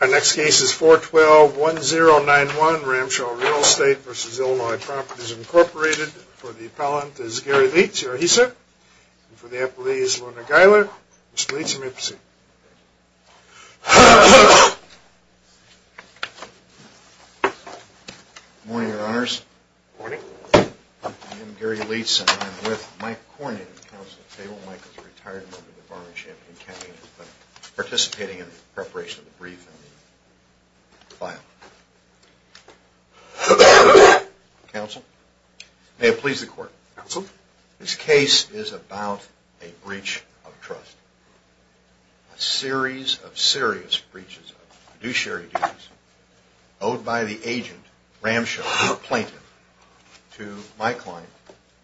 Our next case is 412-1091, Ramshaw Real Estate v. Illinois Properties, Incorporated. For the appellant, it is Gary Leitz. Here he is, sir. And for the appellee, it is Lorna Geiler. Mr. Leitz, you may proceed. Good morning, Your Honors. Good morning. I am Gary Leitz, and I am with Mike Corning, the counsel of Taylor Michaels, a retired member of the Bar and Champaign County Inquiry Center, participating in the preparation of the brief and the file. Counsel, may it please the Court. Counsel. This case is about a breach of trust. A series of serious breaches of fiduciary duties owed by the agent, Ramshaw, the plaintiff, to my client,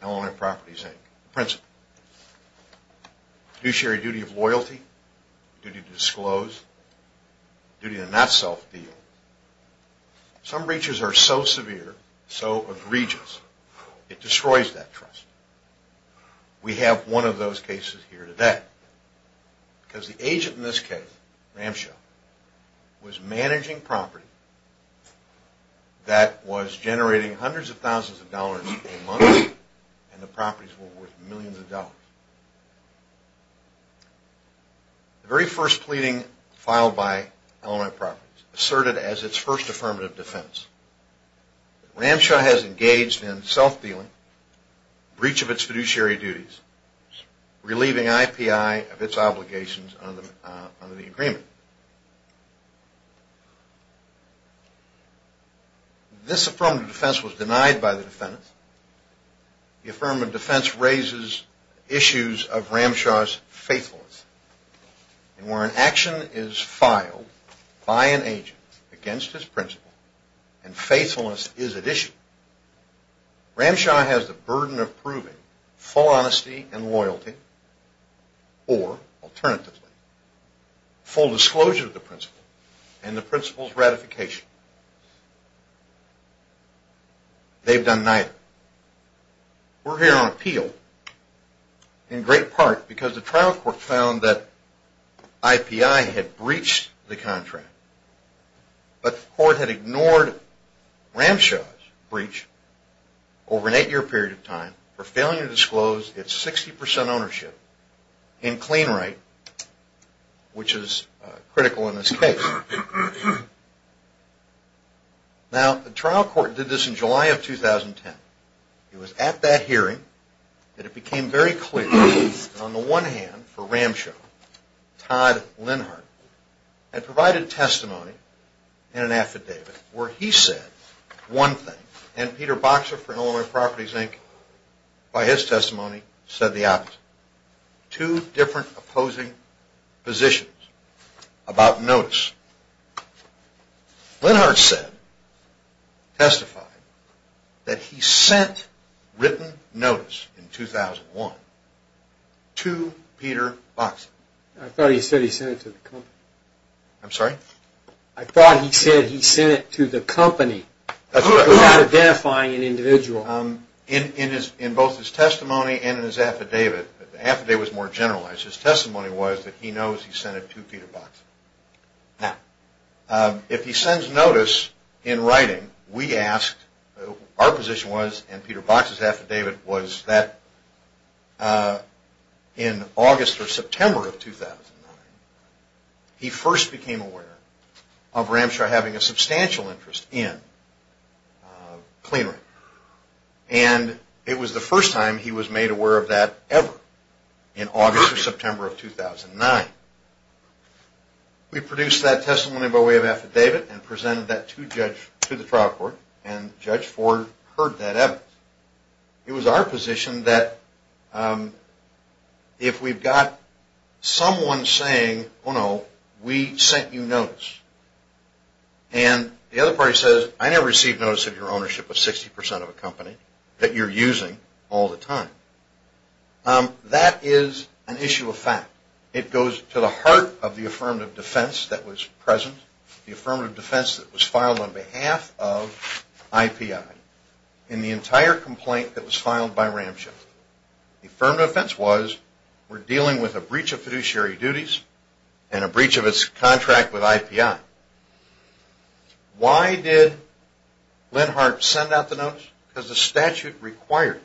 Illinois Properties, Inc., the principal. Fiduciary duty of loyalty, duty to disclose, duty to not self-deal. Some breaches are so severe, so egregious, it destroys that trust. We have one of those cases here today. Because the agent in this case, Ramshaw, was managing property that was generating hundreds of thousands of dollars a month, and the properties were worth millions of dollars. The very first pleading filed by Illinois Properties, asserted as its first affirmative defense, Ramshaw has engaged in self-dealing, breach of its fiduciary duties, relieving IPI of its obligations under the agreement. This affirmative defense was denied by the defendant. The affirmative defense raises issues of Ramshaw's faithfulness. Where an action is filed by an agent against his principal, and faithfulness is at issue, Ramshaw has the burden of proving full honesty and loyalty, or, alternatively, full disclosure of the principal and the principal's ratification. They've done neither. We're here on appeal, in great part because the trial court found that IPI had breached the contract, but the court had ignored Ramshaw's breach over an eight-year period of time for failing to disclose its 60% ownership in clean right, which is critical in this case. Now, the trial court did this in July of 2010. It was at that hearing that it became very clear, on the one hand, for Ramshaw, Todd Linhart had provided testimony in an affidavit where he said one thing, and Peter Boxer from Illinois Properties, Inc., by his testimony, said the opposite. Two different opposing positions about notice. Linhart said, testified, that he sent written notice in 2001 to Peter Boxer. I thought he said he sent it to the company. I'm sorry? I thought he said he sent it to the company without identifying an individual. In both his testimony and in his affidavit, the affidavit was more generalized. His testimony was that he knows he sent it to Peter Boxer. Now, if he sends notice in writing, we asked, our position was, and Peter Boxer's affidavit was that in August or September of 2009, he first became aware of Ramshaw having a substantial interest in clean right. And it was the first time he was made aware of that ever, in August or September of 2009. We produced that testimony by way of affidavit and presented that to the trial court, and Judge Ford heard that evidence. It was our position that if we've got someone saying, oh no, we sent you notice, and the other party says, I never received notice of your ownership of 60% of a company that you're using all the time, that is an issue of fact. It goes to the heart of the affirmative defense that was present, the affirmative defense that was filed on behalf of IPI in the entire complaint that was filed by Ramshaw. The affirmative defense was, we're dealing with a breach of fiduciary duties and a breach of its contract with IPI. Why did Linhart send out the notice? Because the statute required,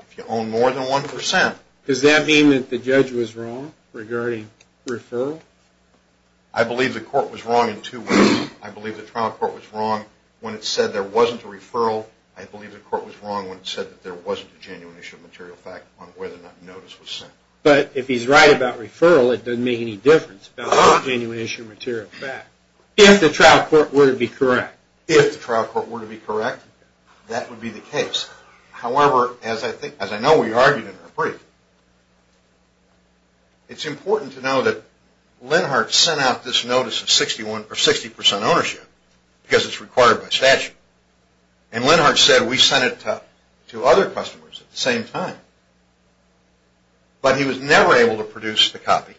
if you own more than 1% Does that mean that the judge was wrong regarding referral? I believe the court was wrong in two ways. I believe the trial court was wrong when it said there wasn't a referral. I believe the court was wrong when it said that there wasn't a genuine issue of material fact on whether or not notice was sent. But if he's right about referral, it doesn't make any difference about genuine issue of material fact. If the trial court were to be correct. If the trial court were to be correct, that would be the case. However, as I know we argued in our brief, it's important to know that Linhart sent out this notice of 60% ownership because it's required by statute. And Linhart said we sent it to other customers at the same time. But he was never able to produce the copy.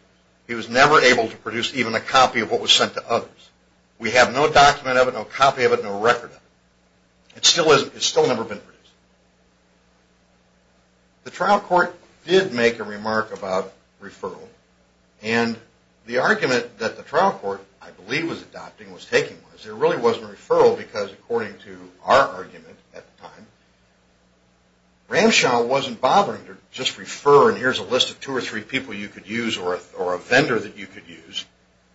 He was never able to produce even a copy of what was sent to others. We have no document of it, no copy of it, no record of it. It still never been produced. The trial court did make a remark about referral. And the argument that the trial court, I believe was adopting, was taking was there really wasn't a referral because according to our argument at the time, Ramshaw wasn't bothering to just refer and here's a list of two or three people you could use or a vendor that you could use.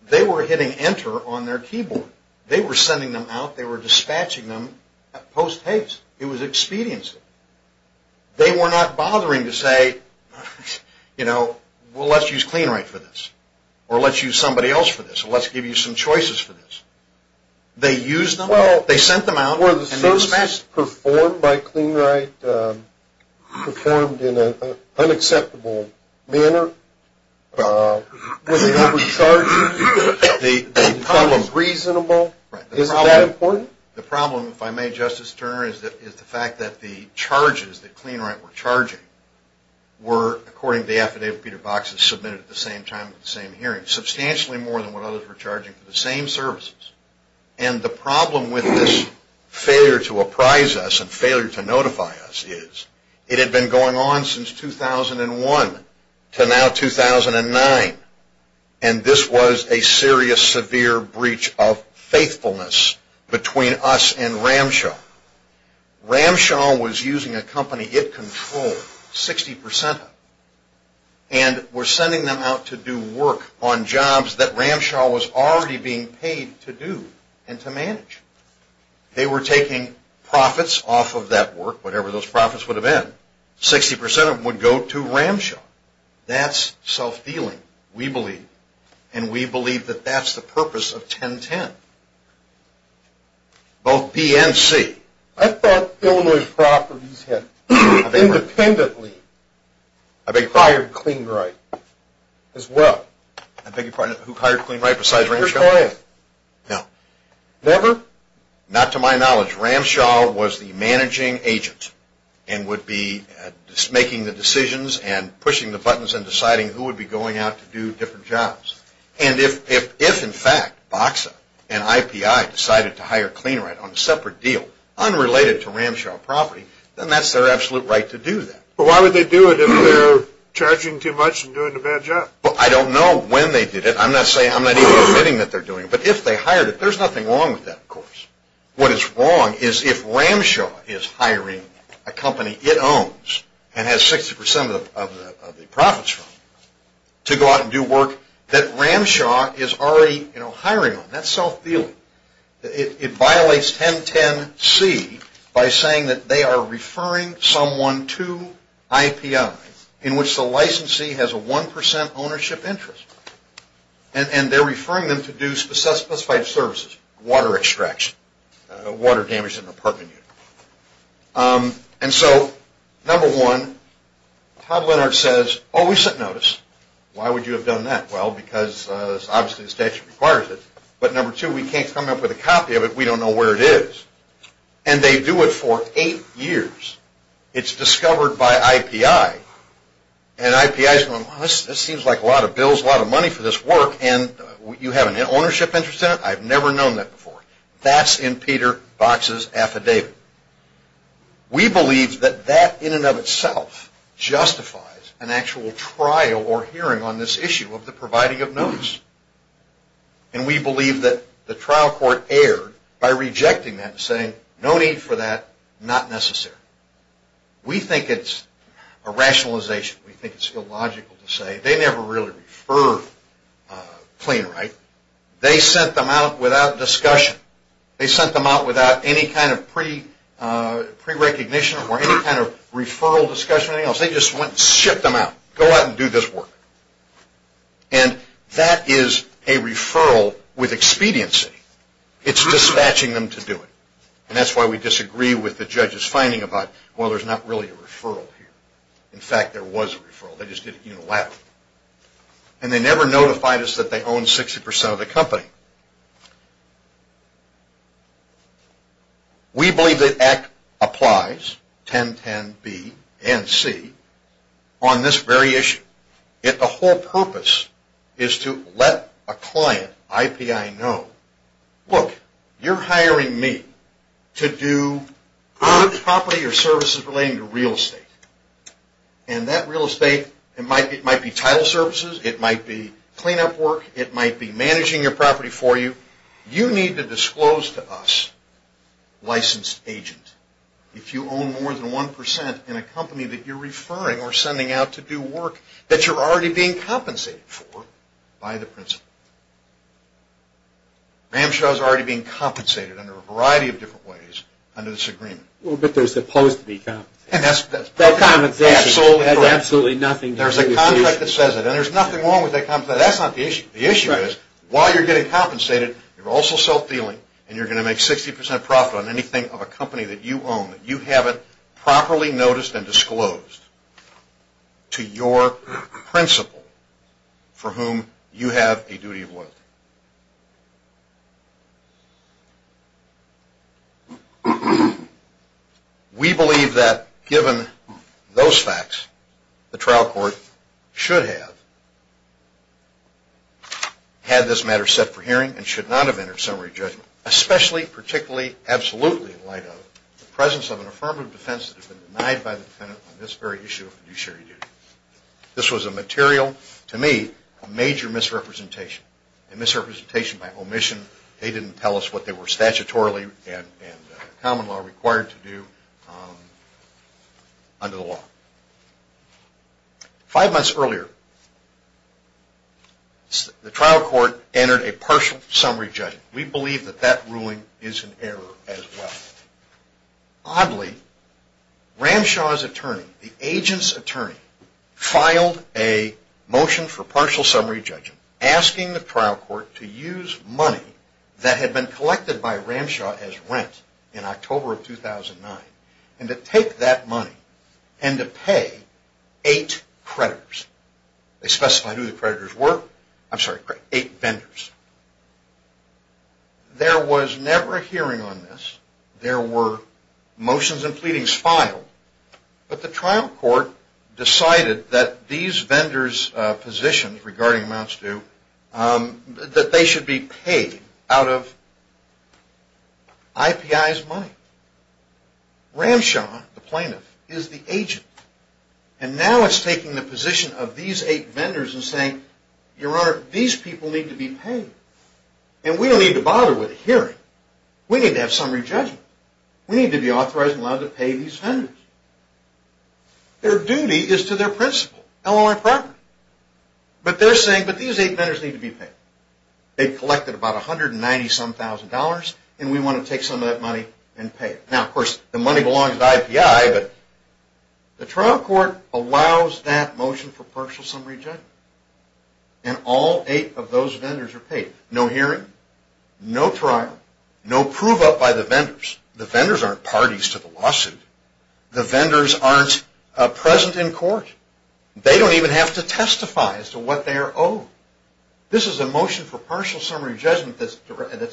They were hitting enter on their keyboard. They were sending them out. They were dispatching them post-haste. It was expediency. They were not bothering to say, you know, well, let's use CleanRight for this. Or let's use somebody else for this. Or let's give you some choices for this. They used them. They sent them out. Were the services performed by CleanRight performed in an unacceptable manner? Was it overcharging? Was it reasonable? Is it that important? The problem, if I may, Justice Turner, is the fact that the charges that CleanRight were charging were, according to the affidavit Peter Box has submitted at the same time at the same hearing, substantially more than what others were charging for the same services. And the problem with this failure to apprise us and failure to notify us is, it had been going on since 2001 to now 2009, and this was a serious, severe breach of faithfulness between us and Ramshaw. Ramshaw was using a company it controlled, 60 percent of it, and were sending them out to do work on jobs that Ramshaw was already being paid to do and to manage. They were taking profits off of that work, whatever those profits would have been. Sixty percent of them would go to Ramshaw. That's self-dealing, we believe. And we believe that that's the purpose of 1010, both B and C. I thought Illinois properties had independently hired CleanRight as well. I beg your pardon, who hired CleanRight besides Ramshaw? No. Never? Not to my knowledge. Ramshaw was the managing agent and would be making the decisions and pushing the buttons and deciding who would be going out to do different jobs. And if, in fact, Boxa and IPI decided to hire CleanRight on a separate deal unrelated to Ramshaw property, then that's their absolute right to do that. But why would they do it if they're charging too much and doing a bad job? Well, I don't know when they did it. I'm not even admitting that they're doing it. But if they hired it, there's nothing wrong with that, of course. What is wrong is if Ramshaw is hiring a company it owns and has 60 percent of the profits from it to go out and do work that Ramshaw is already hiring on. That's self-dealing. It violates 1010C by saying that they are referring someone to IPI in which the licensee has a 1 percent ownership interest. And they're referring them to do specified services, water extraction, water damage in an apartment unit. And so, number one, Todd Leonard says, oh, we sent notice. Why would you have done that? Well, because obviously the statute requires it. But number two, we can't come up with a copy of it. We don't know where it is. And they do it for eight years. It's discovered by IPI. And IPI is going, well, this seems like a lot of bills, a lot of money for this work. And you have an ownership interest in it? I've never known that before. That's in Peter Box's affidavit. We believe that that in and of itself justifies an actual trial or hearing on this issue of the providing of notice. And we believe that the trial court erred by rejecting that and saying no need for that, not necessary. We think it's a rationalization. We think it's illogical to say they never really referred CleanRight. They sent them out without discussion. They sent them out without any kind of pre-recognition or any kind of referral discussion or anything else. They just went and shipped them out. Go out and do this work. And that is a referral with expediency. It's dispatching them to do it. And that's why we disagree with the judge's finding about, well, there's not really a referral here. In fact, there was a referral. They just did it unilaterally. And they never notified us that they owned 60% of the company. We believe that Act applies, 1010B and C, on this very issue. Yet the whole purpose is to let a client, IPI, know, look, you're hiring me to do property or services relating to real estate. And that real estate, it might be title services. It might be cleanup work. It might be managing your property for you. You need to disclose to us, licensed agent, if you own more than 1% in a company that you're referring or sending out to do work that you're already being compensated for by the principal. Ramshows are already being compensated under a variety of different ways under this agreement. Well, but they're supposed to be compensated. That compensation has absolutely nothing to do with the issue. There's a contract that says it, and there's nothing wrong with that contract. That's not the issue. The issue is, while you're getting compensated, you're also self-dealing, and you're going to make 60% profit on anything of a company that you own that you haven't properly noticed and disclosed to your principal for whom you have a duty of loyalty. We believe that, given those facts, the trial court should have had this matter set for hearing and should not have entered summary judgment, especially, particularly, absolutely, in light of the presence of an affirmative defense that has been denied by the defendant on this very issue of fiduciary duty. This was a material, to me, a major misrepresentation, a misrepresentation by omission. They didn't tell us what they were statutorily and common law required to do under the law. Five months earlier, the trial court entered a partial summary judgment. We believe that that ruling is an error as well. Oddly, Ramshaw's attorney, the agent's attorney, filed a motion for partial summary judgment asking the trial court to use money that had been collected by Ramshaw as rent in October of 2009 and to take that money and to pay eight creditors. They specified who the creditors were. I'm sorry, eight vendors. There was never a hearing on this. There were motions and pleadings filed. But the trial court decided that these vendors' positions regarding amounts due, that they should be paid out of IPI's money. Ramshaw, the plaintiff, is the agent. And now it's taking the position of these eight vendors and saying, Your Honor, these people need to be paid. And we don't need to bother with a hearing. We need to have summary judgment. We need to be authorized and allowed to pay these vendors. Their duty is to their principal, LLI property. But they're saying that these eight vendors need to be paid. They've collected about $190,000 and we want to take some of that money and pay it. Now, of course, the money belongs to IPI, but the trial court allows that motion for partial summary judgment. And all eight of those vendors are paid. No hearing, no trial, no prove-up by the vendors. The vendors aren't parties to the lawsuit. The vendors aren't present in court. They don't even have to testify as to what they are owed. This is a motion for partial summary judgment that's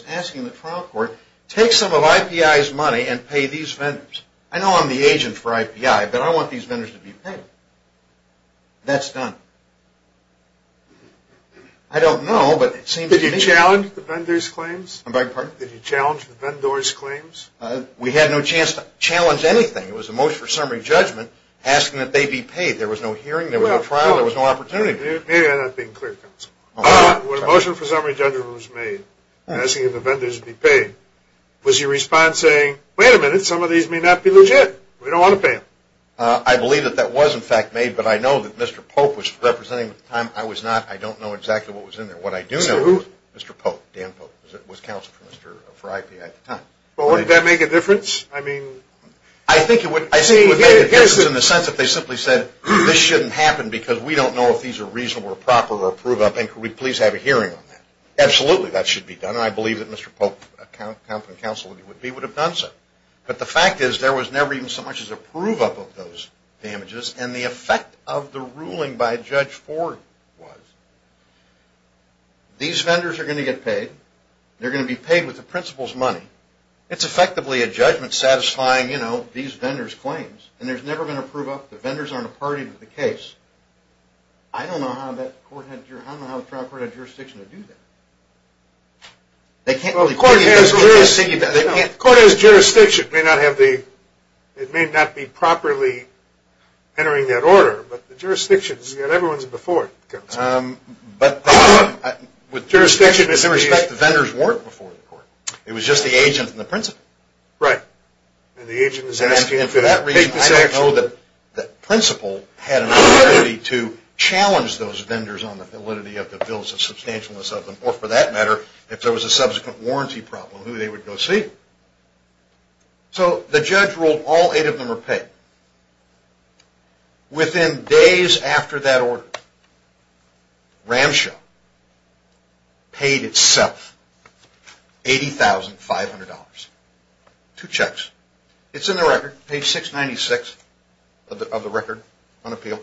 asking the trial court, Take some of IPI's money and pay these vendors. I know I'm the agent for IPI, but I want these vendors to be paid. That's done. I don't know, but it seems to me... Did you challenge the vendors' claims? I beg your pardon? Did you challenge the vendors' claims? We had no chance to challenge anything. It was a motion for summary judgment asking that they be paid. There was no hearing, there was no trial, there was no opportunity. Maybe I'm not being clear, counsel. When a motion for summary judgment was made asking if the vendors be paid, was your response saying, wait a minute, some of these may not be legit. We don't want to pay them. I believe that that was, in fact, made, but I know that Mr. Pope was representing. At the time, I was not. I don't know exactly what was in there. What I do know is Mr. Pope, Dan Pope, was counsel for IPI at the time. Well, would that make a difference? I mean... I think it would make a difference in the sense that they simply said, this shouldn't happen because we don't know if these are reasonable or proper or approve of, and could we please have a hearing on that. Absolutely, that should be done, and I believe that Mr. Pope, counsel, would have done so. But the fact is, there was never even so much as a prove-up of those damages, and the effect of the ruling by Judge Ford was, these vendors are going to get paid. They're going to be paid with the principal's money. It's effectively a judgment satisfying these vendors' claims, and there's never been a prove-up. The vendors aren't a party to the case. I don't know how the trial court had jurisdiction to do that. Well, the court has jurisdiction. The court has jurisdiction. It may not be properly entering that order, but the jurisdiction is that everyone's before it, counsel. But with jurisdiction, in some respect, the vendors weren't before the court. It was just the agent and the principal. Right. And the agent is asking to take this action. And for that reason, I don't know that the principal had an authority to challenge those vendors on the validity of the bills, if there was a substantialness of them, or for that matter, if there was a subsequent warranty problem, who they would go see. So the judge ruled all eight of them were paid. Within days after that order, Ramshaw paid itself $80,500. Two checks. It's in the record, page 696 of the record on appeal.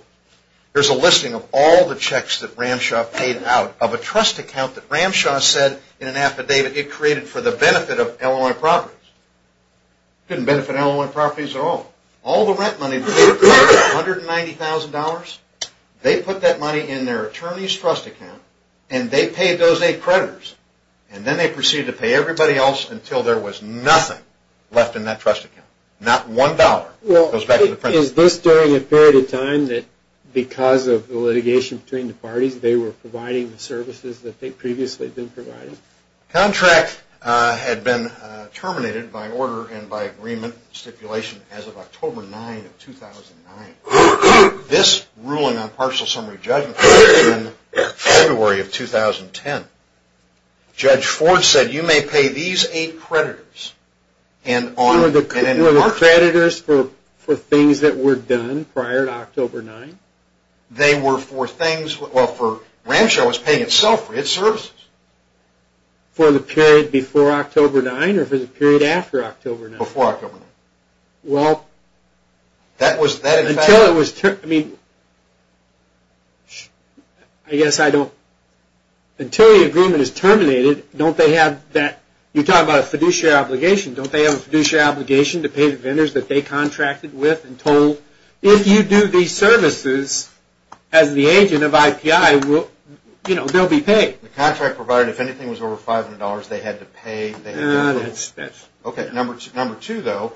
There's a listing of all the checks that Ramshaw paid out of a trust account that Ramshaw said in an affidavit it created for the benefit of Illinois properties. It didn't benefit Illinois properties at all. All the rent money, $190,000, they put that money in their attorney's trust account, and they paid those eight creditors. And then they proceeded to pay everybody else until there was nothing left in that trust account. Not one dollar goes back to the principal. Is this during a period of time that because of the litigation between the parties, they were providing the services that they'd previously been providing? The contract had been terminated by order and by agreement, stipulation as of October 9 of 2009. This ruling on partial summary judgment came in February of 2010. Judge Ford said you may pay these eight creditors. One of the creditors for things that were done prior to October 9? They were for things. Well, Ramshaw was paying itself for its services. For the period before October 9 or for the period after October 9? Before October 9. Well, until it was terminated, you're talking about a fiduciary obligation. Don't they have a fiduciary obligation to pay the vendors that they contracted with and told, if you do these services as the agent of IPI, they'll be paid? The contract provider, if anything, was over $500. They had to pay. Number two, though,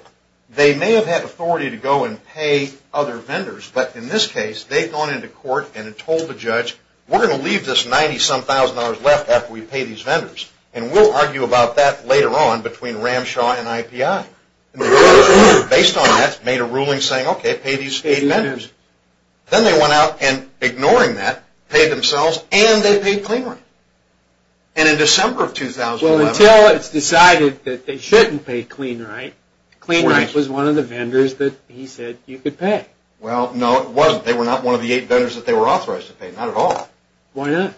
they may have had authority to go and pay other vendors, but in this case, they've gone into court and told the judge, we're going to leave this $90-some-thousand left after we pay these vendors. And we'll argue about that later on between Ramshaw and IPI. Based on that, made a ruling saying, okay, pay these eight vendors. Then they went out and, ignoring that, paid themselves and they paid CleanRight. And in December of 2011. Well, until it's decided that they shouldn't pay CleanRight, CleanRight was one of the vendors that he said you could pay. Well, no, it wasn't. They were not one of the eight vendors that they were authorized to pay. Not at all. Why not?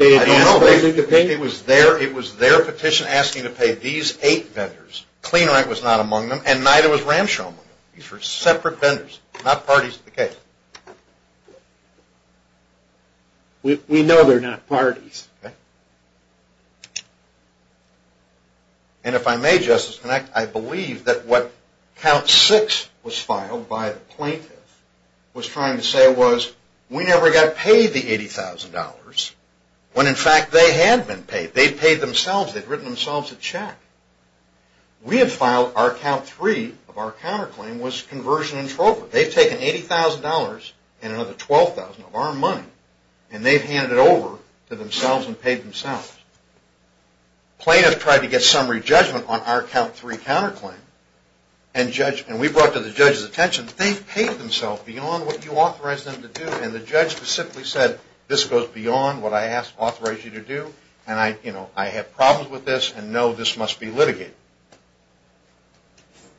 I don't know. It was their petition asking to pay these eight vendors. CleanRight was not among them, and neither was Ramshaw. These were separate vendors, not parties to the case. We know they're not parties. And if I may, Justice Connect, I believe that what count six was filed by the plaintiff was trying to say was we never got paid the $80,000 when, in fact, they had been paid. They'd paid themselves. They'd written themselves a check. We had filed our count three of our counterclaim was conversion in Trova. They've taken $80,000 and another $12,000 of our money, and they've handed it over to themselves and paid themselves. Plaintiff tried to get summary judgment on our count three counterclaim, and we brought it to the judge's attention. They've paid themselves beyond what you authorized them to do, and the judge specifically said this goes beyond what I authorized you to do, and I have problems with this, and no, this must be litigated.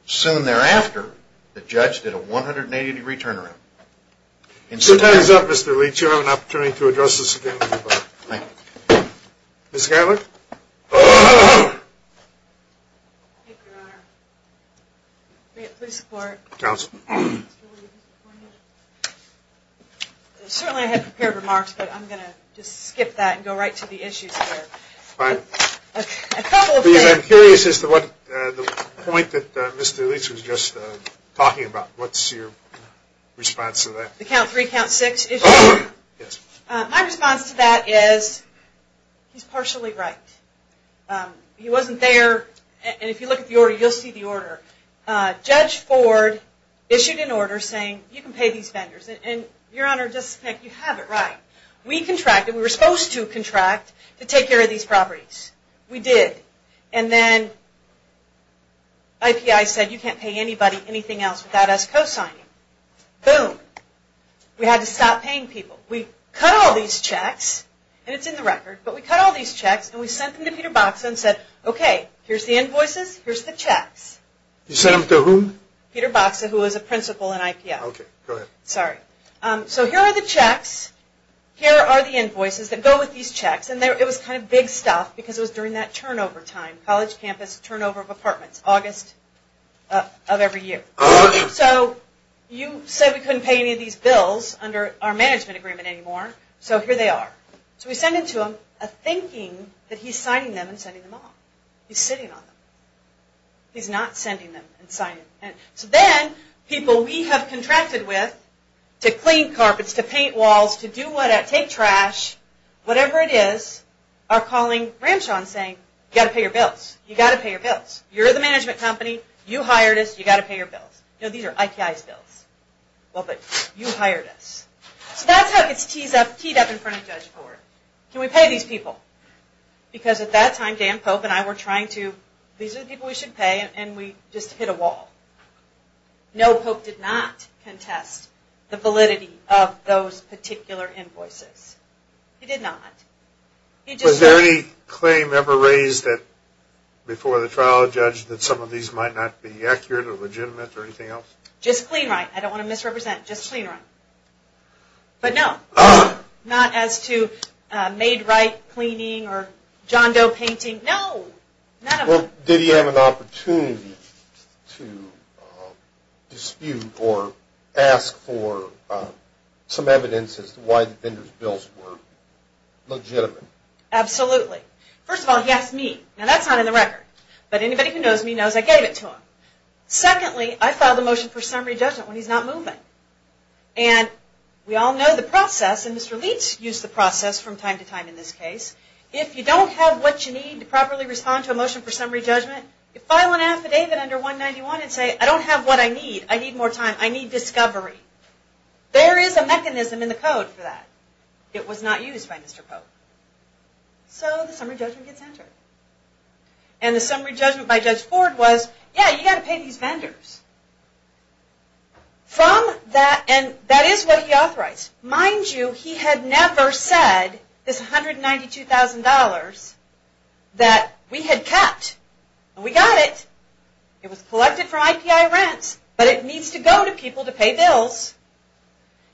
Soon thereafter, the judge did a 180-degree turnaround. Two times up, Mr. Leach. You have an opportunity to address this again. Thank you. Ms. Gatlick? Thank you, Your Honor. Great. Please support. Counsel? Certainly I had prepared remarks, but I'm going to just skip that and go right to the issues here. Fine. A couple of things. I'm curious as to what the point that Mr. Leach was just talking about. What's your response to that? The count three, count six issue? Yes. My response to that is he's partially right. He wasn't there, and if you look at the order, you'll see the order. Judge Ford issued an order saying you can pay these vendors, and Your Honor, just to be clear, you have it right. We contracted. We were supposed to contract to take care of these properties. We did. And then IPI said you can't pay anybody anything else without us cosigning. Boom. We had to stop paying people. We cut all these checks, and it's in the record, but we cut all these checks, and we sent them to Peter Boxa and said, okay, here's the invoices. Here's the checks. You sent them to whom? Peter Boxa, who was a principal in IPI. Okay. Go ahead. Sorry. So here are the checks. Here are the invoices that go with these checks, and it was kind of big stuff because it was during that turnover time, college campus turnover of apartments, August of every year. So you said we couldn't pay any of these bills under our management agreement anymore, so here they are. So we send them to him thinking that he's signing them and sending them off. He's sitting on them. He's not sending them and signing them. So then people we have contracted with to clean carpets, to paint walls, to take trash, whatever it is, are calling Ramshaw and saying, you've got to pay your bills. You've got to pay your bills. You're the management company. You hired us. You've got to pay your bills. No, these are IPI's bills. Well, but you hired us. So that's how it gets teed up in front of Judge Ford. Can we pay these people? Because at that time, Dan Pope and I were trying to, these are the people we should pay, and we just hit a wall. No, Pope did not contest the validity of those particular invoices. He did not. Was there any claim ever raised before the trial of Judge that some of these invoices might not be accurate or legitimate or anything else? Just clean right. I don't want to misrepresent. Just clean right. But no, not as to made right cleaning or John Doe painting. No, not at all. Did he have an opportunity to dispute or ask for some evidence as to why the vendor's bills were legitimate? Absolutely. First of all, he asked me. Now, that's not in the record. But anybody who knows me knows I gave it to him. Secondly, I filed a motion for summary judgment when he's not moving. And we all know the process, and Mr. Leitz used the process from time to time in this case. If you don't have what you need to properly respond to a motion for summary judgment, you file an affidavit under 191 and say, I don't have what I need. I need more time. I need discovery. There is a mechanism in the code for that. It was not used by Mr. Pope. So the summary judgment gets entered. And the summary judgment by Judge Ford was, yeah, you've got to pay these vendors. And that is what he authorized. Mind you, he had never said this $192,000 that we had kept. We got it. It was collected from IPI rents. But it needs to go to people to pay bills.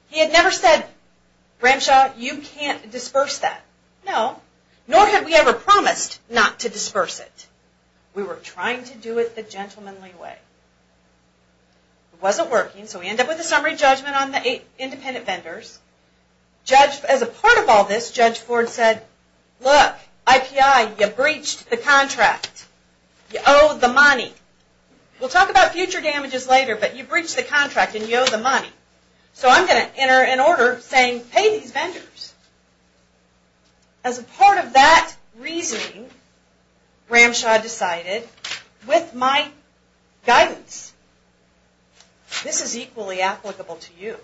He had never said, Ramshaw, you can't disperse that. No. Nor had we ever promised not to disperse it. We were trying to do it the gentlemanly way. It wasn't working, so we end up with a summary judgment on the eight independent vendors. As a part of all this, Judge Ford said, look, IPI, you breached the contract. You owe the money. We'll talk about future damages later, but you breached the contract and you owe the money. As a part of that reasoning, Ramshaw decided, with my guidance, this is equally applicable to you.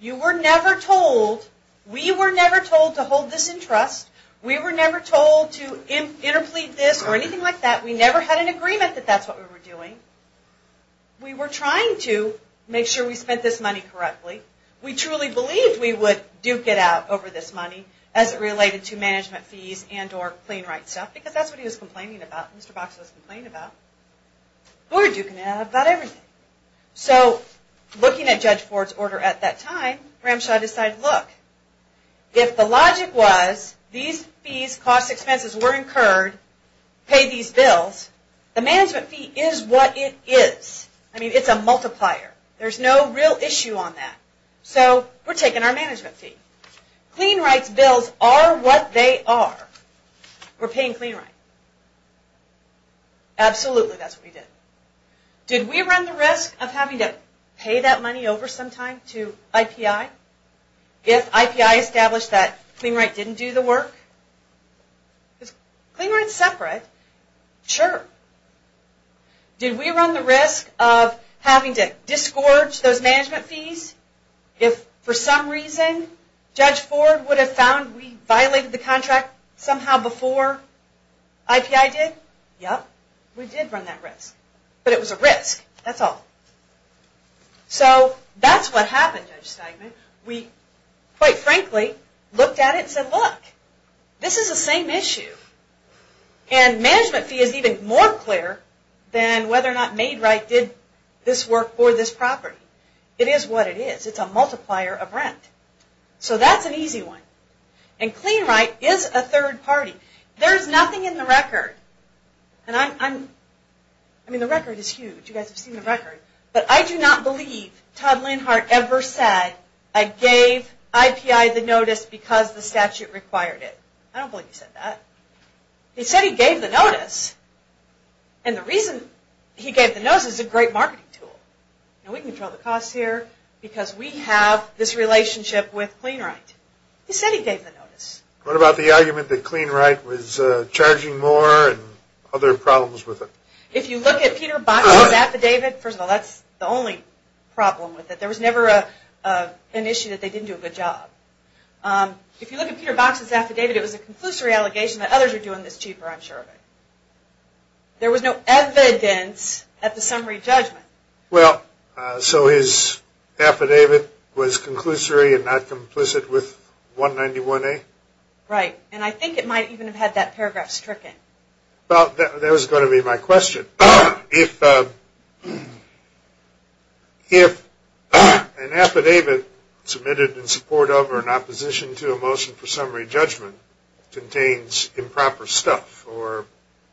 You were never told, we were never told to hold this in trust. We were never told to interplead this or anything like that. We never had an agreement that that's what we were doing. We were trying to make sure we spent this money correctly. We truly believed we would duke it out over this money as it related to management fees and or clean rights stuff, because that's what he was complaining about. Mr. Box was complaining about. We were duking it out about everything. So, looking at Judge Ford's order at that time, Ramshaw decided, look, if the logic was these fees, cost expenses were incurred, pay these bills, the management fee is what it is. I mean, it's a multiplier. There's no real issue on that. So, we're taking our management fee. Clean rights bills are what they are. We're paying clean rights. Absolutely, that's what he did. Did we run the risk of having to pay that money over sometime to IPI? If IPI established that clean rights didn't do the work? If clean rights separate, sure. Did we run the risk of having to disgorge those management fees? If, for some reason, Judge Ford would have found we violated the contract somehow before IPI did? Yep, we did run that risk. But it was a risk, that's all. So, that's what happened, Judge Steigman. We, quite frankly, looked at it and said, look, this is the same issue. And management fee is even more clear than whether or not Maid Right did this work for this property. It is what it is. It's a multiplier of rent. So, that's an easy one. And clean right is a third party. There's nothing in the record. I mean, the record is huge. You guys have seen the record. But I do not believe Todd Leonhardt ever said, I gave IPI the notice because the statute required it. I don't believe he said that. He said he gave the notice. And the reason he gave the notice is a great marketing tool. We can control the costs here because we have this relationship with clean right. He said he gave the notice. What about the argument that clean right was charging more and other problems with it? If you look at Peter Box's affidavit, first of all, that's the only problem with it. There was never an issue that they didn't do a good job. If you look at Peter Box's affidavit, it was a conclusory allegation that others are doing this cheaper, I'm sure of it. There was no evidence at the summary judgment. Well, so his affidavit was conclusory and not complicit with 191A? Right. And I think it might even have had that paragraph stricken. Well, that was going to be my question. If an affidavit submitted in support of or in opposition to a motion for summary judgment contains improper stuff or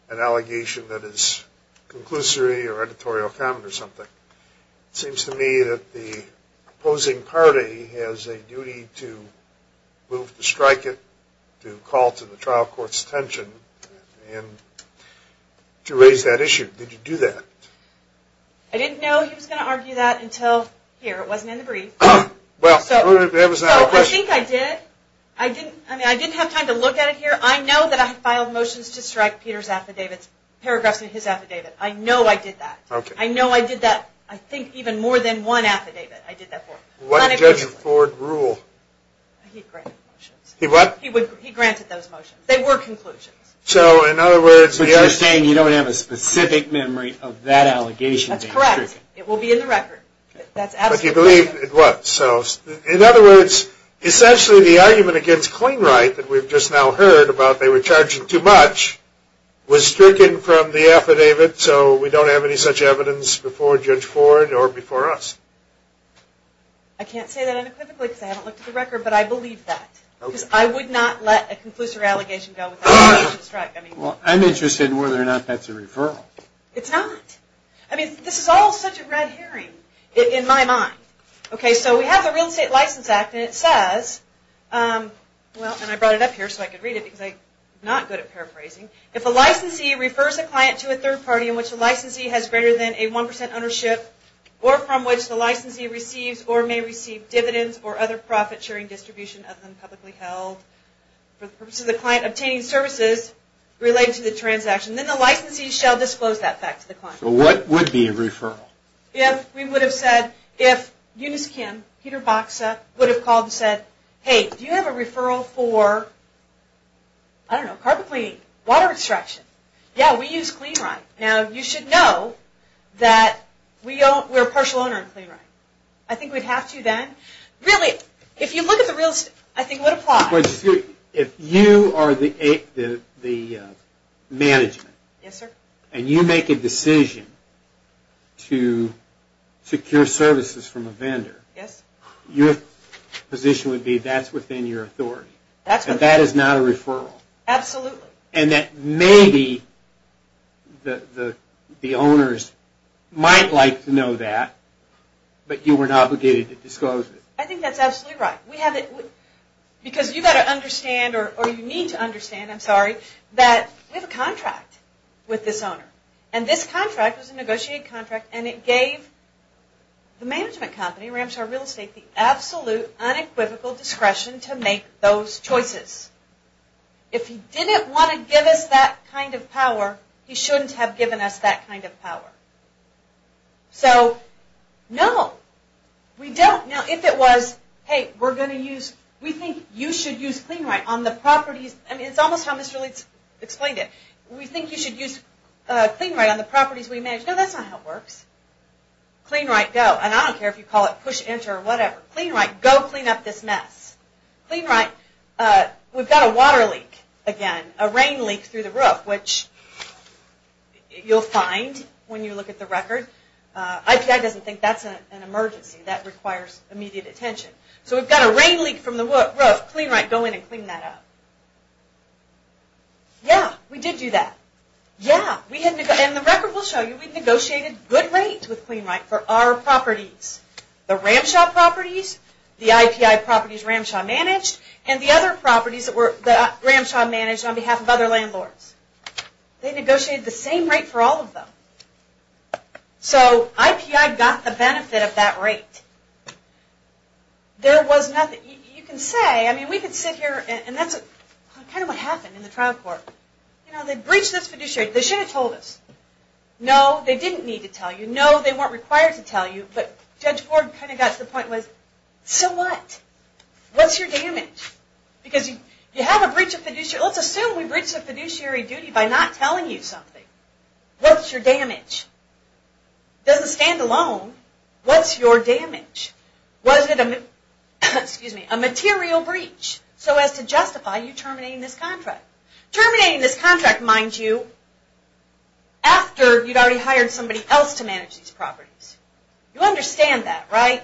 an allegation that is conclusory or editorial comment or something, it seems to me that the opposing party has a duty to move to strike it, to call to the trial court's attention, and to raise that issue. Did you do that? I didn't know he was going to argue that until here. It wasn't in the brief. Well, that was not my question. I think I did. I didn't have time to look at it here. I know that I filed motions to strike Peter's affidavit, paragraphs in his affidavit. I know I did that. Okay. I know I did that, I think even more than one affidavit I did that for. What did Judge Ford rule? He granted motions. He what? He granted those motions. They were conclusions. So, in other words, But you're saying you don't have a specific memory of that allegation being stricken. That's correct. It will be in the record. That's absolutely correct. But you believe it was. So, in other words, essentially the argument against Clingwright, that we've just now heard about they were charging too much, was stricken from the affidavit, so we don't have any such evidence before Judge Ford or before us. I can't say that unequivocally because I haven't looked at the record, but I believe that. Okay. Because I would not let a conclusive allegation go without a conviction strike. Well, I'm interested in whether or not that's a referral. It's not. I mean, this is all such a red herring in my mind. Okay, so we have the Real Estate License Act, and it says, well, and I brought it up here so I could read it because I'm not good at paraphrasing. If a licensee refers a client to a third party in which the licensee has greater than a 1% ownership or from which the licensee receives or may receive dividends or other profit-sharing distribution other than publicly held for the purpose of the client obtaining services related to the transaction, then the licensee shall disclose that fact to the client. So what would be a referral? If we would have said, if Eunice Kim, Peter Boxa, would have called and said, hey, do you have a referral for, I don't know, carpet cleaning, water extraction? Yeah, we use Clingwright. Now, you should know that we're a partial owner of Clingwright. I think we'd have to then. Really, if you look at the real estate, I think it would apply. If you are the management and you make a decision to secure services from a vendor, your position would be that's within your authority. That is not a referral. Absolutely. And that maybe the owners might like to know that, but you weren't obligated to disclose it. I think that's absolutely right. Because you've got to understand, or you need to understand, I'm sorry, that we have a contract with this owner. And this contract was a negotiated contract, and it gave the management company, Ramshar Real Estate, the absolute, unequivocal discretion to make those choices. If he didn't want to give us that kind of power, he shouldn't have given us that kind of power. So, no, we don't. Now, if it was, hey, we're going to use, we think you should use Clingwright on the properties. I mean, it's almost how Mr. Leeds explained it. We think you should use Clingwright on the properties we manage. No, that's not how it works. Clingwright, go. And I don't care if you call it push enter or whatever. Clingwright, go clean up this mess. Clingwright, we've got a water leak again, a rain leak through the roof, which you'll find when you look at the record. IPI doesn't think that's an emergency. That requires immediate attention. So we've got a rain leak from the roof. Clingwright, go in and clean that up. Yeah, we did do that. Yeah, and the record will show you we negotiated good rates with Clingwright for our properties. The Ramshaw properties, the IPI properties Ramshaw managed, and the other properties that Ramshaw managed on behalf of other landlords. They negotiated the same rate for all of them. So IPI got the benefit of that rate. There was nothing. You can say, I mean, we could sit here, and that's kind of what happened in the trial court. You know, they breached this fiduciary. They should have told us. No, they didn't need to tell you. No, they weren't required to tell you. But Judge Ford kind of got to the point with, so what? What's your damage? Because you have a breach of fiduciary. Let's assume we breached the fiduciary duty by not telling you something. What's your damage? Doesn't stand alone. What's your damage? Was it a material breach so as to justify you terminating this contract? Terminating this contract, mind you, after you'd already hired somebody else to manage these properties. You understand that, right?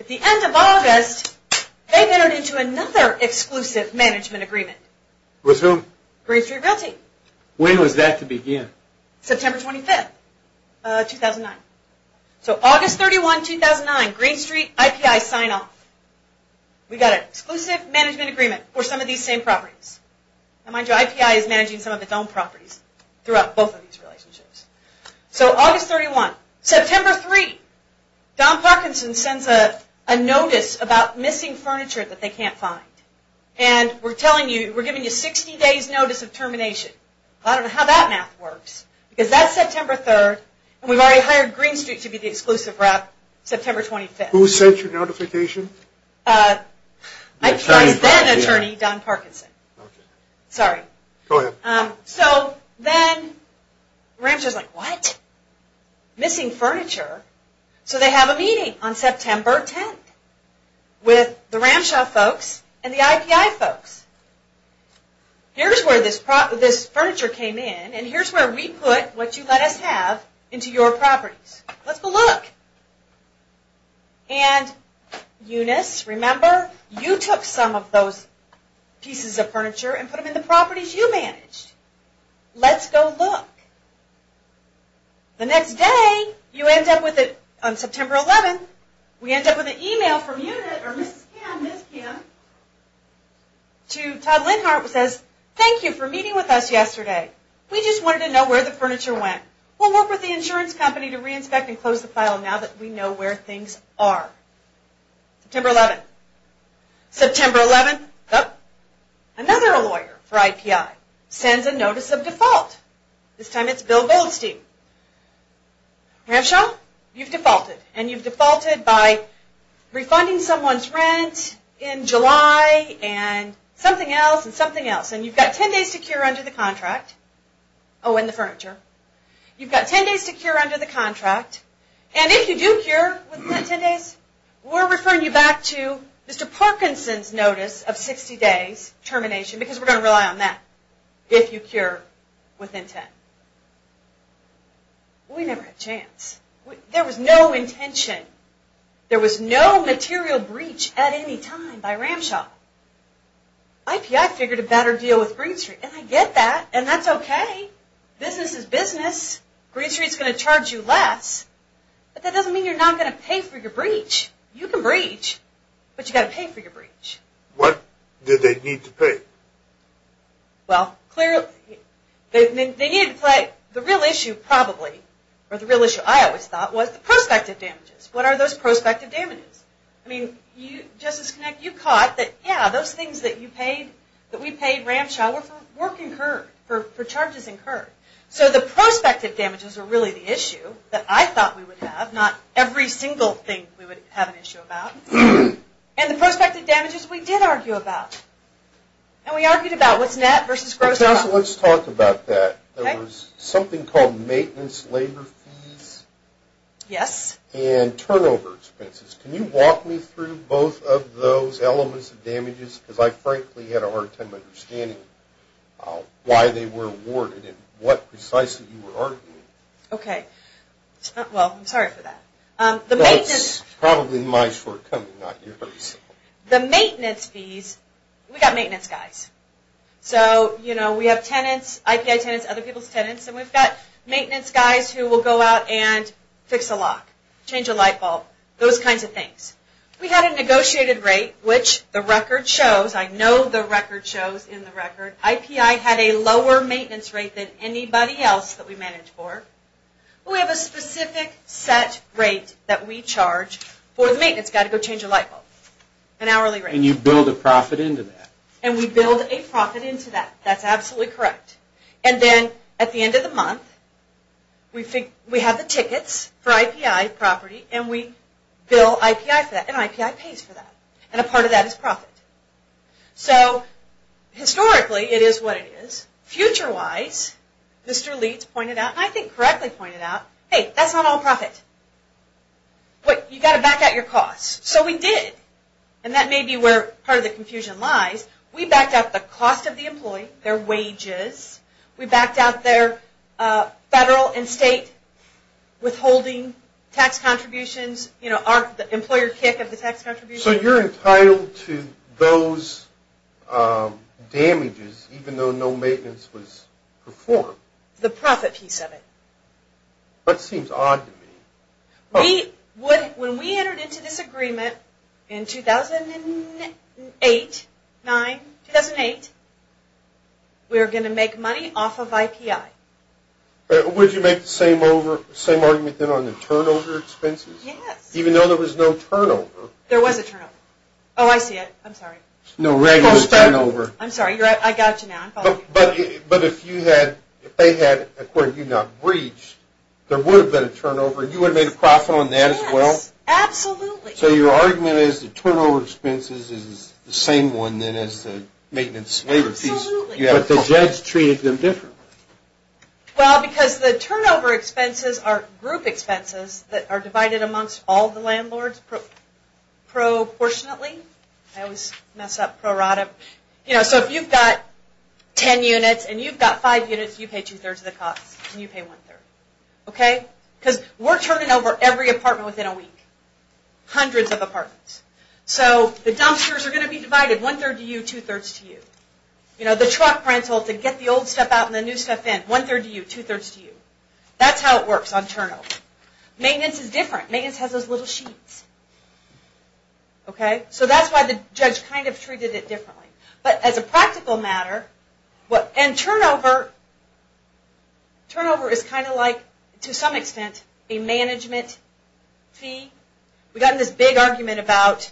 At the end of August, they entered into another exclusive management agreement. With whom? Green Street Realty. When was that to begin? September 25, 2009. So August 31, 2009, Green Street, IPI sign off. We got an exclusive management agreement for some of these same properties. And mind you, IPI is managing some of its own properties throughout both of these relationships. So August 31, September 3, Don Parkinson sends a notice about missing furniture that they can't find. And we're telling you, we're giving you 60 days notice of termination. I don't know how that math works. Because that's September 3, and we've already hired Green Street to be the exclusive rep September 25. Who sent your notification? IPI's then attorney, Don Parkinson. Sorry. Go ahead. So then Ramshaw's like, what? Missing furniture? So they have a meeting on September 10th with the Ramshaw folks and the IPI folks. Here's where this furniture came in and here's where we put what you let us have into your properties. Let's go look. And Eunice, remember, you took some of those pieces of furniture and put them in the properties you managed. Let's go look. The next day, you end up with it on September 11th. We end up with an email from Eunice, or Mrs. Kim, Miss Kim, to Todd Lindhart who says, thank you for meeting with us yesterday. We just wanted to know where the furniture went. We'll work with the insurance company to re-inspect and close the file now that we know where things are. September 11th. September 11th. Another lawyer for IPI sends a notice of default. This time it's Bill Goldstein. Ramshaw, you've defaulted. And you've defaulted by refunding someone's rent in July and something else and something else. And you've got 10 days to cure under the contract. Oh, and the furniture. You've got 10 days to cure under the contract. And if you do cure within that 10 days, we're referring you back to Mr. Parkinson's notice of 60 days termination because we're going to rely on that if you cure within 10. We never had a chance. There was no intention. There was no material breach at any time by Ramshaw. IPI figured a better deal with Green Street. And I get that. And that's okay. Business is business. Green Street's going to charge you less. But that doesn't mean you're not going to pay for your breach. You can breach, but you've got to pay for your breach. What did they need to pay? Well, clearly they needed to pay. The real issue probably, or the real issue I always thought, was the prospective damages. What are those prospective damages? I mean, Justice Connick, you caught that, yeah, those things that you paid, that we paid Ramshaw, were for work incurred, for charges incurred. So the prospective damages are really the issue that I thought we would have, but not every single thing we would have an issue about. And the prospective damages we did argue about. And we argued about what's net versus gross. Let's talk about that. There was something called maintenance labor fees and turnover expenses. Can you walk me through both of those elements of damages? Because I frankly had a hard time understanding why they were awarded and what precisely you were arguing. Okay. Well, I'm sorry for that. That's probably my shortcoming, not yours. The maintenance fees, we've got maintenance guys. So, you know, we have tenants, IPI tenants, other people's tenants, and we've got maintenance guys who will go out and fix a lock, change a light bulb, those kinds of things. We had a negotiated rate, which the record shows, I know the record shows in the record, IPI had a lower maintenance rate than anybody else that we managed for. We have a specific set rate that we charge for the maintenance guy to go change a light bulb, an hourly rate. And you build a profit into that. And we build a profit into that. That's absolutely correct. And then at the end of the month, we have the tickets for IPI property, and we bill IPI for that, and IPI pays for that. And a part of that is profit. So, historically, it is what it is. Future-wise, Mr. Leitz pointed out, and I think correctly pointed out, hey, that's not all profit. You've got to back out your costs. So we did. And that may be where part of the confusion lies. We backed out the cost of the employee, their wages. We backed out their federal and state withholding tax contributions, the employer kick of the tax contributions. So you're entitled to those damages even though no maintenance was performed? The profit, he said it. That seems odd to me. When we entered into this agreement in 2008, 2009, 2008, we were going to make money off of IPI. Would you make the same argument then on the turnover expenses? Yes. Even though there was no turnover? There was a turnover. Oh, I see it. I'm sorry. No regular turnover. I'm sorry. I got you now. I'm following you. But if you had, if they had, according to you, not breached, there would have been a turnover. You would have made a profit on that as well? Yes. Absolutely. So your argument is the turnover expenses is the same one then as the maintenance labor fees? Absolutely. But the judge treated them differently. Well, because the turnover expenses are group expenses that are divided amongst all the landlords proportionately. I always mess up, prorata. So if you've got ten units and you've got five units, you pay two-thirds of the cost and you pay one-third. Okay? Because we're turning over every apartment within a week, hundreds of apartments. So the dumpsters are going to be divided, one-third to you, two-thirds to you. The truck rental to get the old stuff out and the new stuff in, one-third to you, two-thirds to you. That's how it works on turnover. Maintenance is different. Maintenance has those little sheets. Okay? So that's why the judge kind of treated it differently. But as a practical matter, and turnover is kind of like, to some extent, a management fee. We got in this big argument about,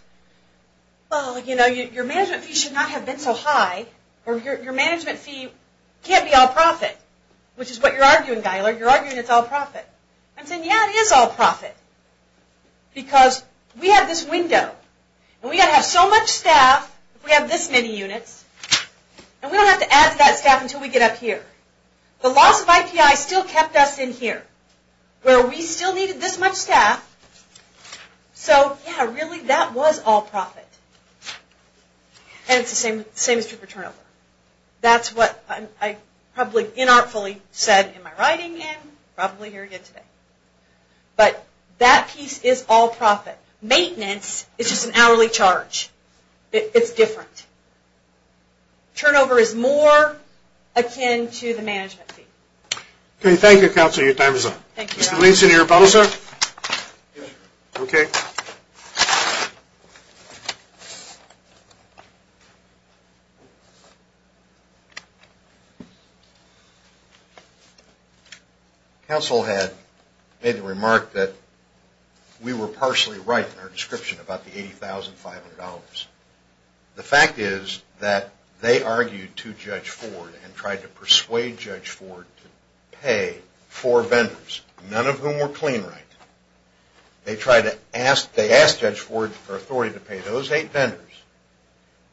well, you know, your management fee should not have been so high. Or your management fee can't be all profit, which is what you're arguing, Guyler. You're arguing it's all profit. I'm saying, yeah, it is all profit. Because we have this window. And we've got to have so much staff, we have this many units, and we don't have to add to that staff until we get up here. The loss of IPI still kept us in here, where we still needed this much staff. So, yeah, really, that was all profit. And it's the same as true for turnover. That's what I probably inartfully said in my writing, and I'm probably here again today. But that piece is all profit. Maintenance is just an hourly charge. It's different. Turnover is more akin to the management fee. Okay. Thank you, Counselor. Your time is up. Thank you, Your Honor. Mr. Weinstein, are you available, sir? Okay. Counsel had made the remark that we were partially right in our description about the $80,500. The fact is that they argued to Judge Ford and tried to persuade Judge Ford to pay four vendors, none of whom were clean right. They asked Judge Ford for authority to pay those eight vendors.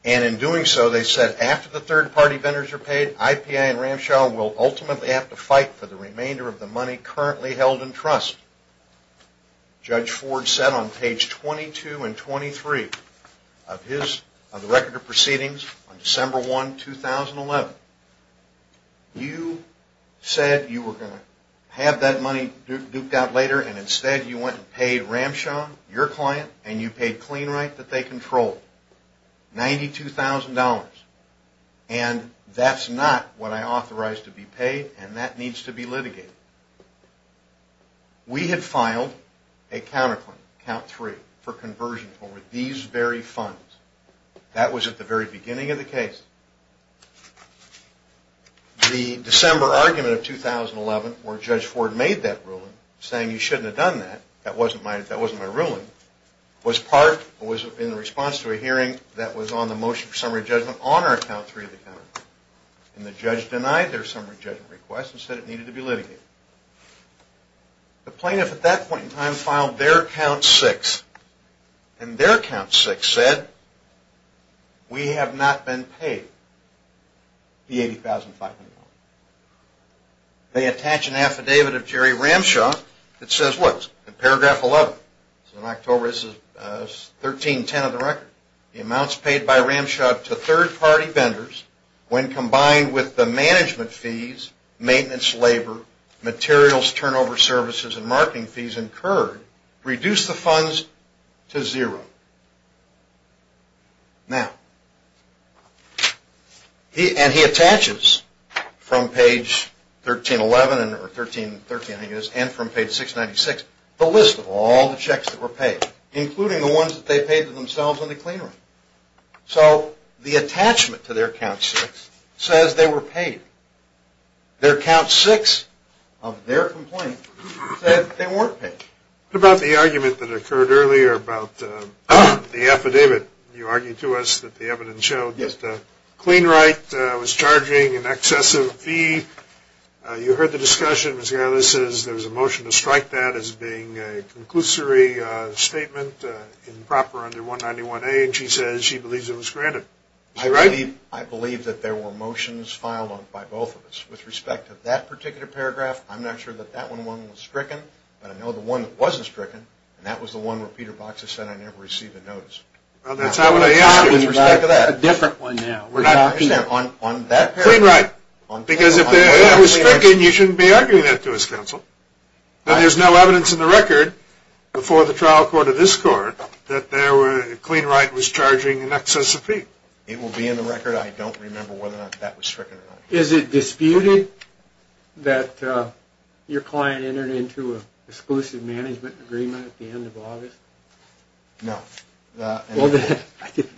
And in doing so, they said after the third-party vendors are paid, IPI and Ramshaw will ultimately have to fight for the remainder of the money currently held in trust. Judge Ford said on page 22 and 23 of the Record of Proceedings on You said you were going to have that money duped out later, and instead you went and paid Ramshaw, your client, and you paid clean right that they controlled, $92,000. And that's not what I authorized to be paid, and that needs to be litigated. We had filed a counterclaim, count three, for conversion over these very funds. That was at the very beginning of the case. The December argument of 2011, where Judge Ford made that ruling, saying you shouldn't have done that, that wasn't my ruling, was in response to a hearing that was on the motion for summary judgment on our count three of the counterclaim. And the judge denied their summary judgment request and said it needed to be litigated. The plaintiff at that point in time filed their count six, and their count six said we have not been paid the $80,500. They attach an affidavit of Jerry Ramshaw that says what? Paragraph 11. This is in October. This is 1310 of the Record. The amounts paid by Ramshaw to third-party vendors, when combined with the management fees, maintenance, labor, materials, turnover services, and marketing fees incurred, reduce the funds to zero. Now, and he attaches from page 1311, or 1330 I think it is, and from page 696, the list of all the checks that were paid, including the ones that they paid to themselves in the cleanroom. So the attachment to their count six says they were paid. Their count six of their complaint said they weren't paid. What about the argument that occurred earlier about the affidavit? You argued to us that the evidence showed that CleanRight was charging an excessive fee. You heard the discussion. Ms. Garland says there was a motion to strike that as being a conclusory statement improper under 191A, and she says she believes it was granted. Is that right? I believe that there were motions filed by both of us. With respect to that particular paragraph, I'm not sure that that one was stricken, but I know the one that wasn't stricken, and that was the one where Peter Boxer said, I never received a notice. That's a different one now. CleanRight. Because if that was stricken, you shouldn't be arguing that to us, Counsel. But there's no evidence in the Record before the trial court of this court that CleanRight was charging an excessive fee. It will be in the Record. I don't remember whether or not that was stricken or not. Is it disputed that your client entered into an exclusive management agreement at the end of August? No.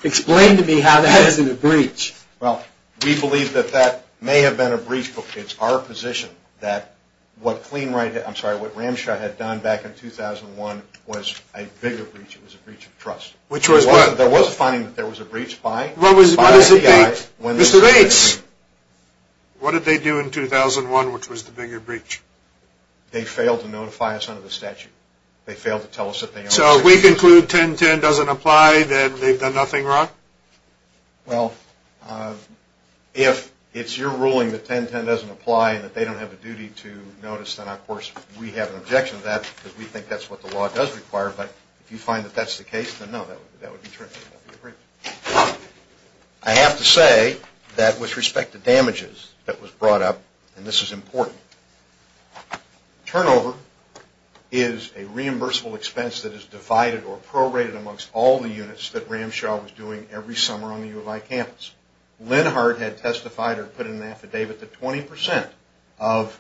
Explain to me how that isn't a breach. Well, we believe that that may have been a breach, but it's our position that what CleanRight, I'm sorry, what Ramshaw had done back in 2001 was a bigger breach. It was a breach of trust. Which was what? There was a finding that there was a breach by the FBI. Mr. Bates. What did they do in 2001, which was the bigger breach? They failed to notify us under the statute. They failed to tell us that they owned the securities. So if we conclude 1010 doesn't apply, then they've done nothing wrong? Well, if it's your ruling that 1010 doesn't apply and that they don't have a duty to notice, then of course we have an objection to that because we think that's what the law does require. But if you find that that's the case, then no, that would be a breach. I have to say that with respect to damages that was brought up, and this is important, turnover is a reimbursable expense that is divided or prorated amongst all the units that Ramshaw was doing every summer on the U of I campus. Linhart had testified or put in an affidavit that 20% of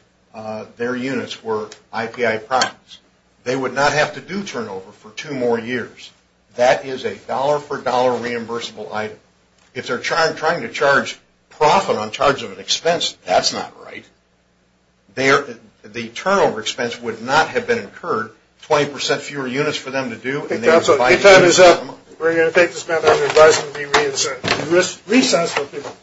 their units were IPI products. They would not have to do turnover for two more years. That is a dollar-for-dollar reimbursable item. If they're trying to charge profit on charge of an expense, that's not right. The turnover expense would not have been incurred, 20% fewer units for them to do. Okay, time is up. We're going to take this matter under advisement and be reassessed.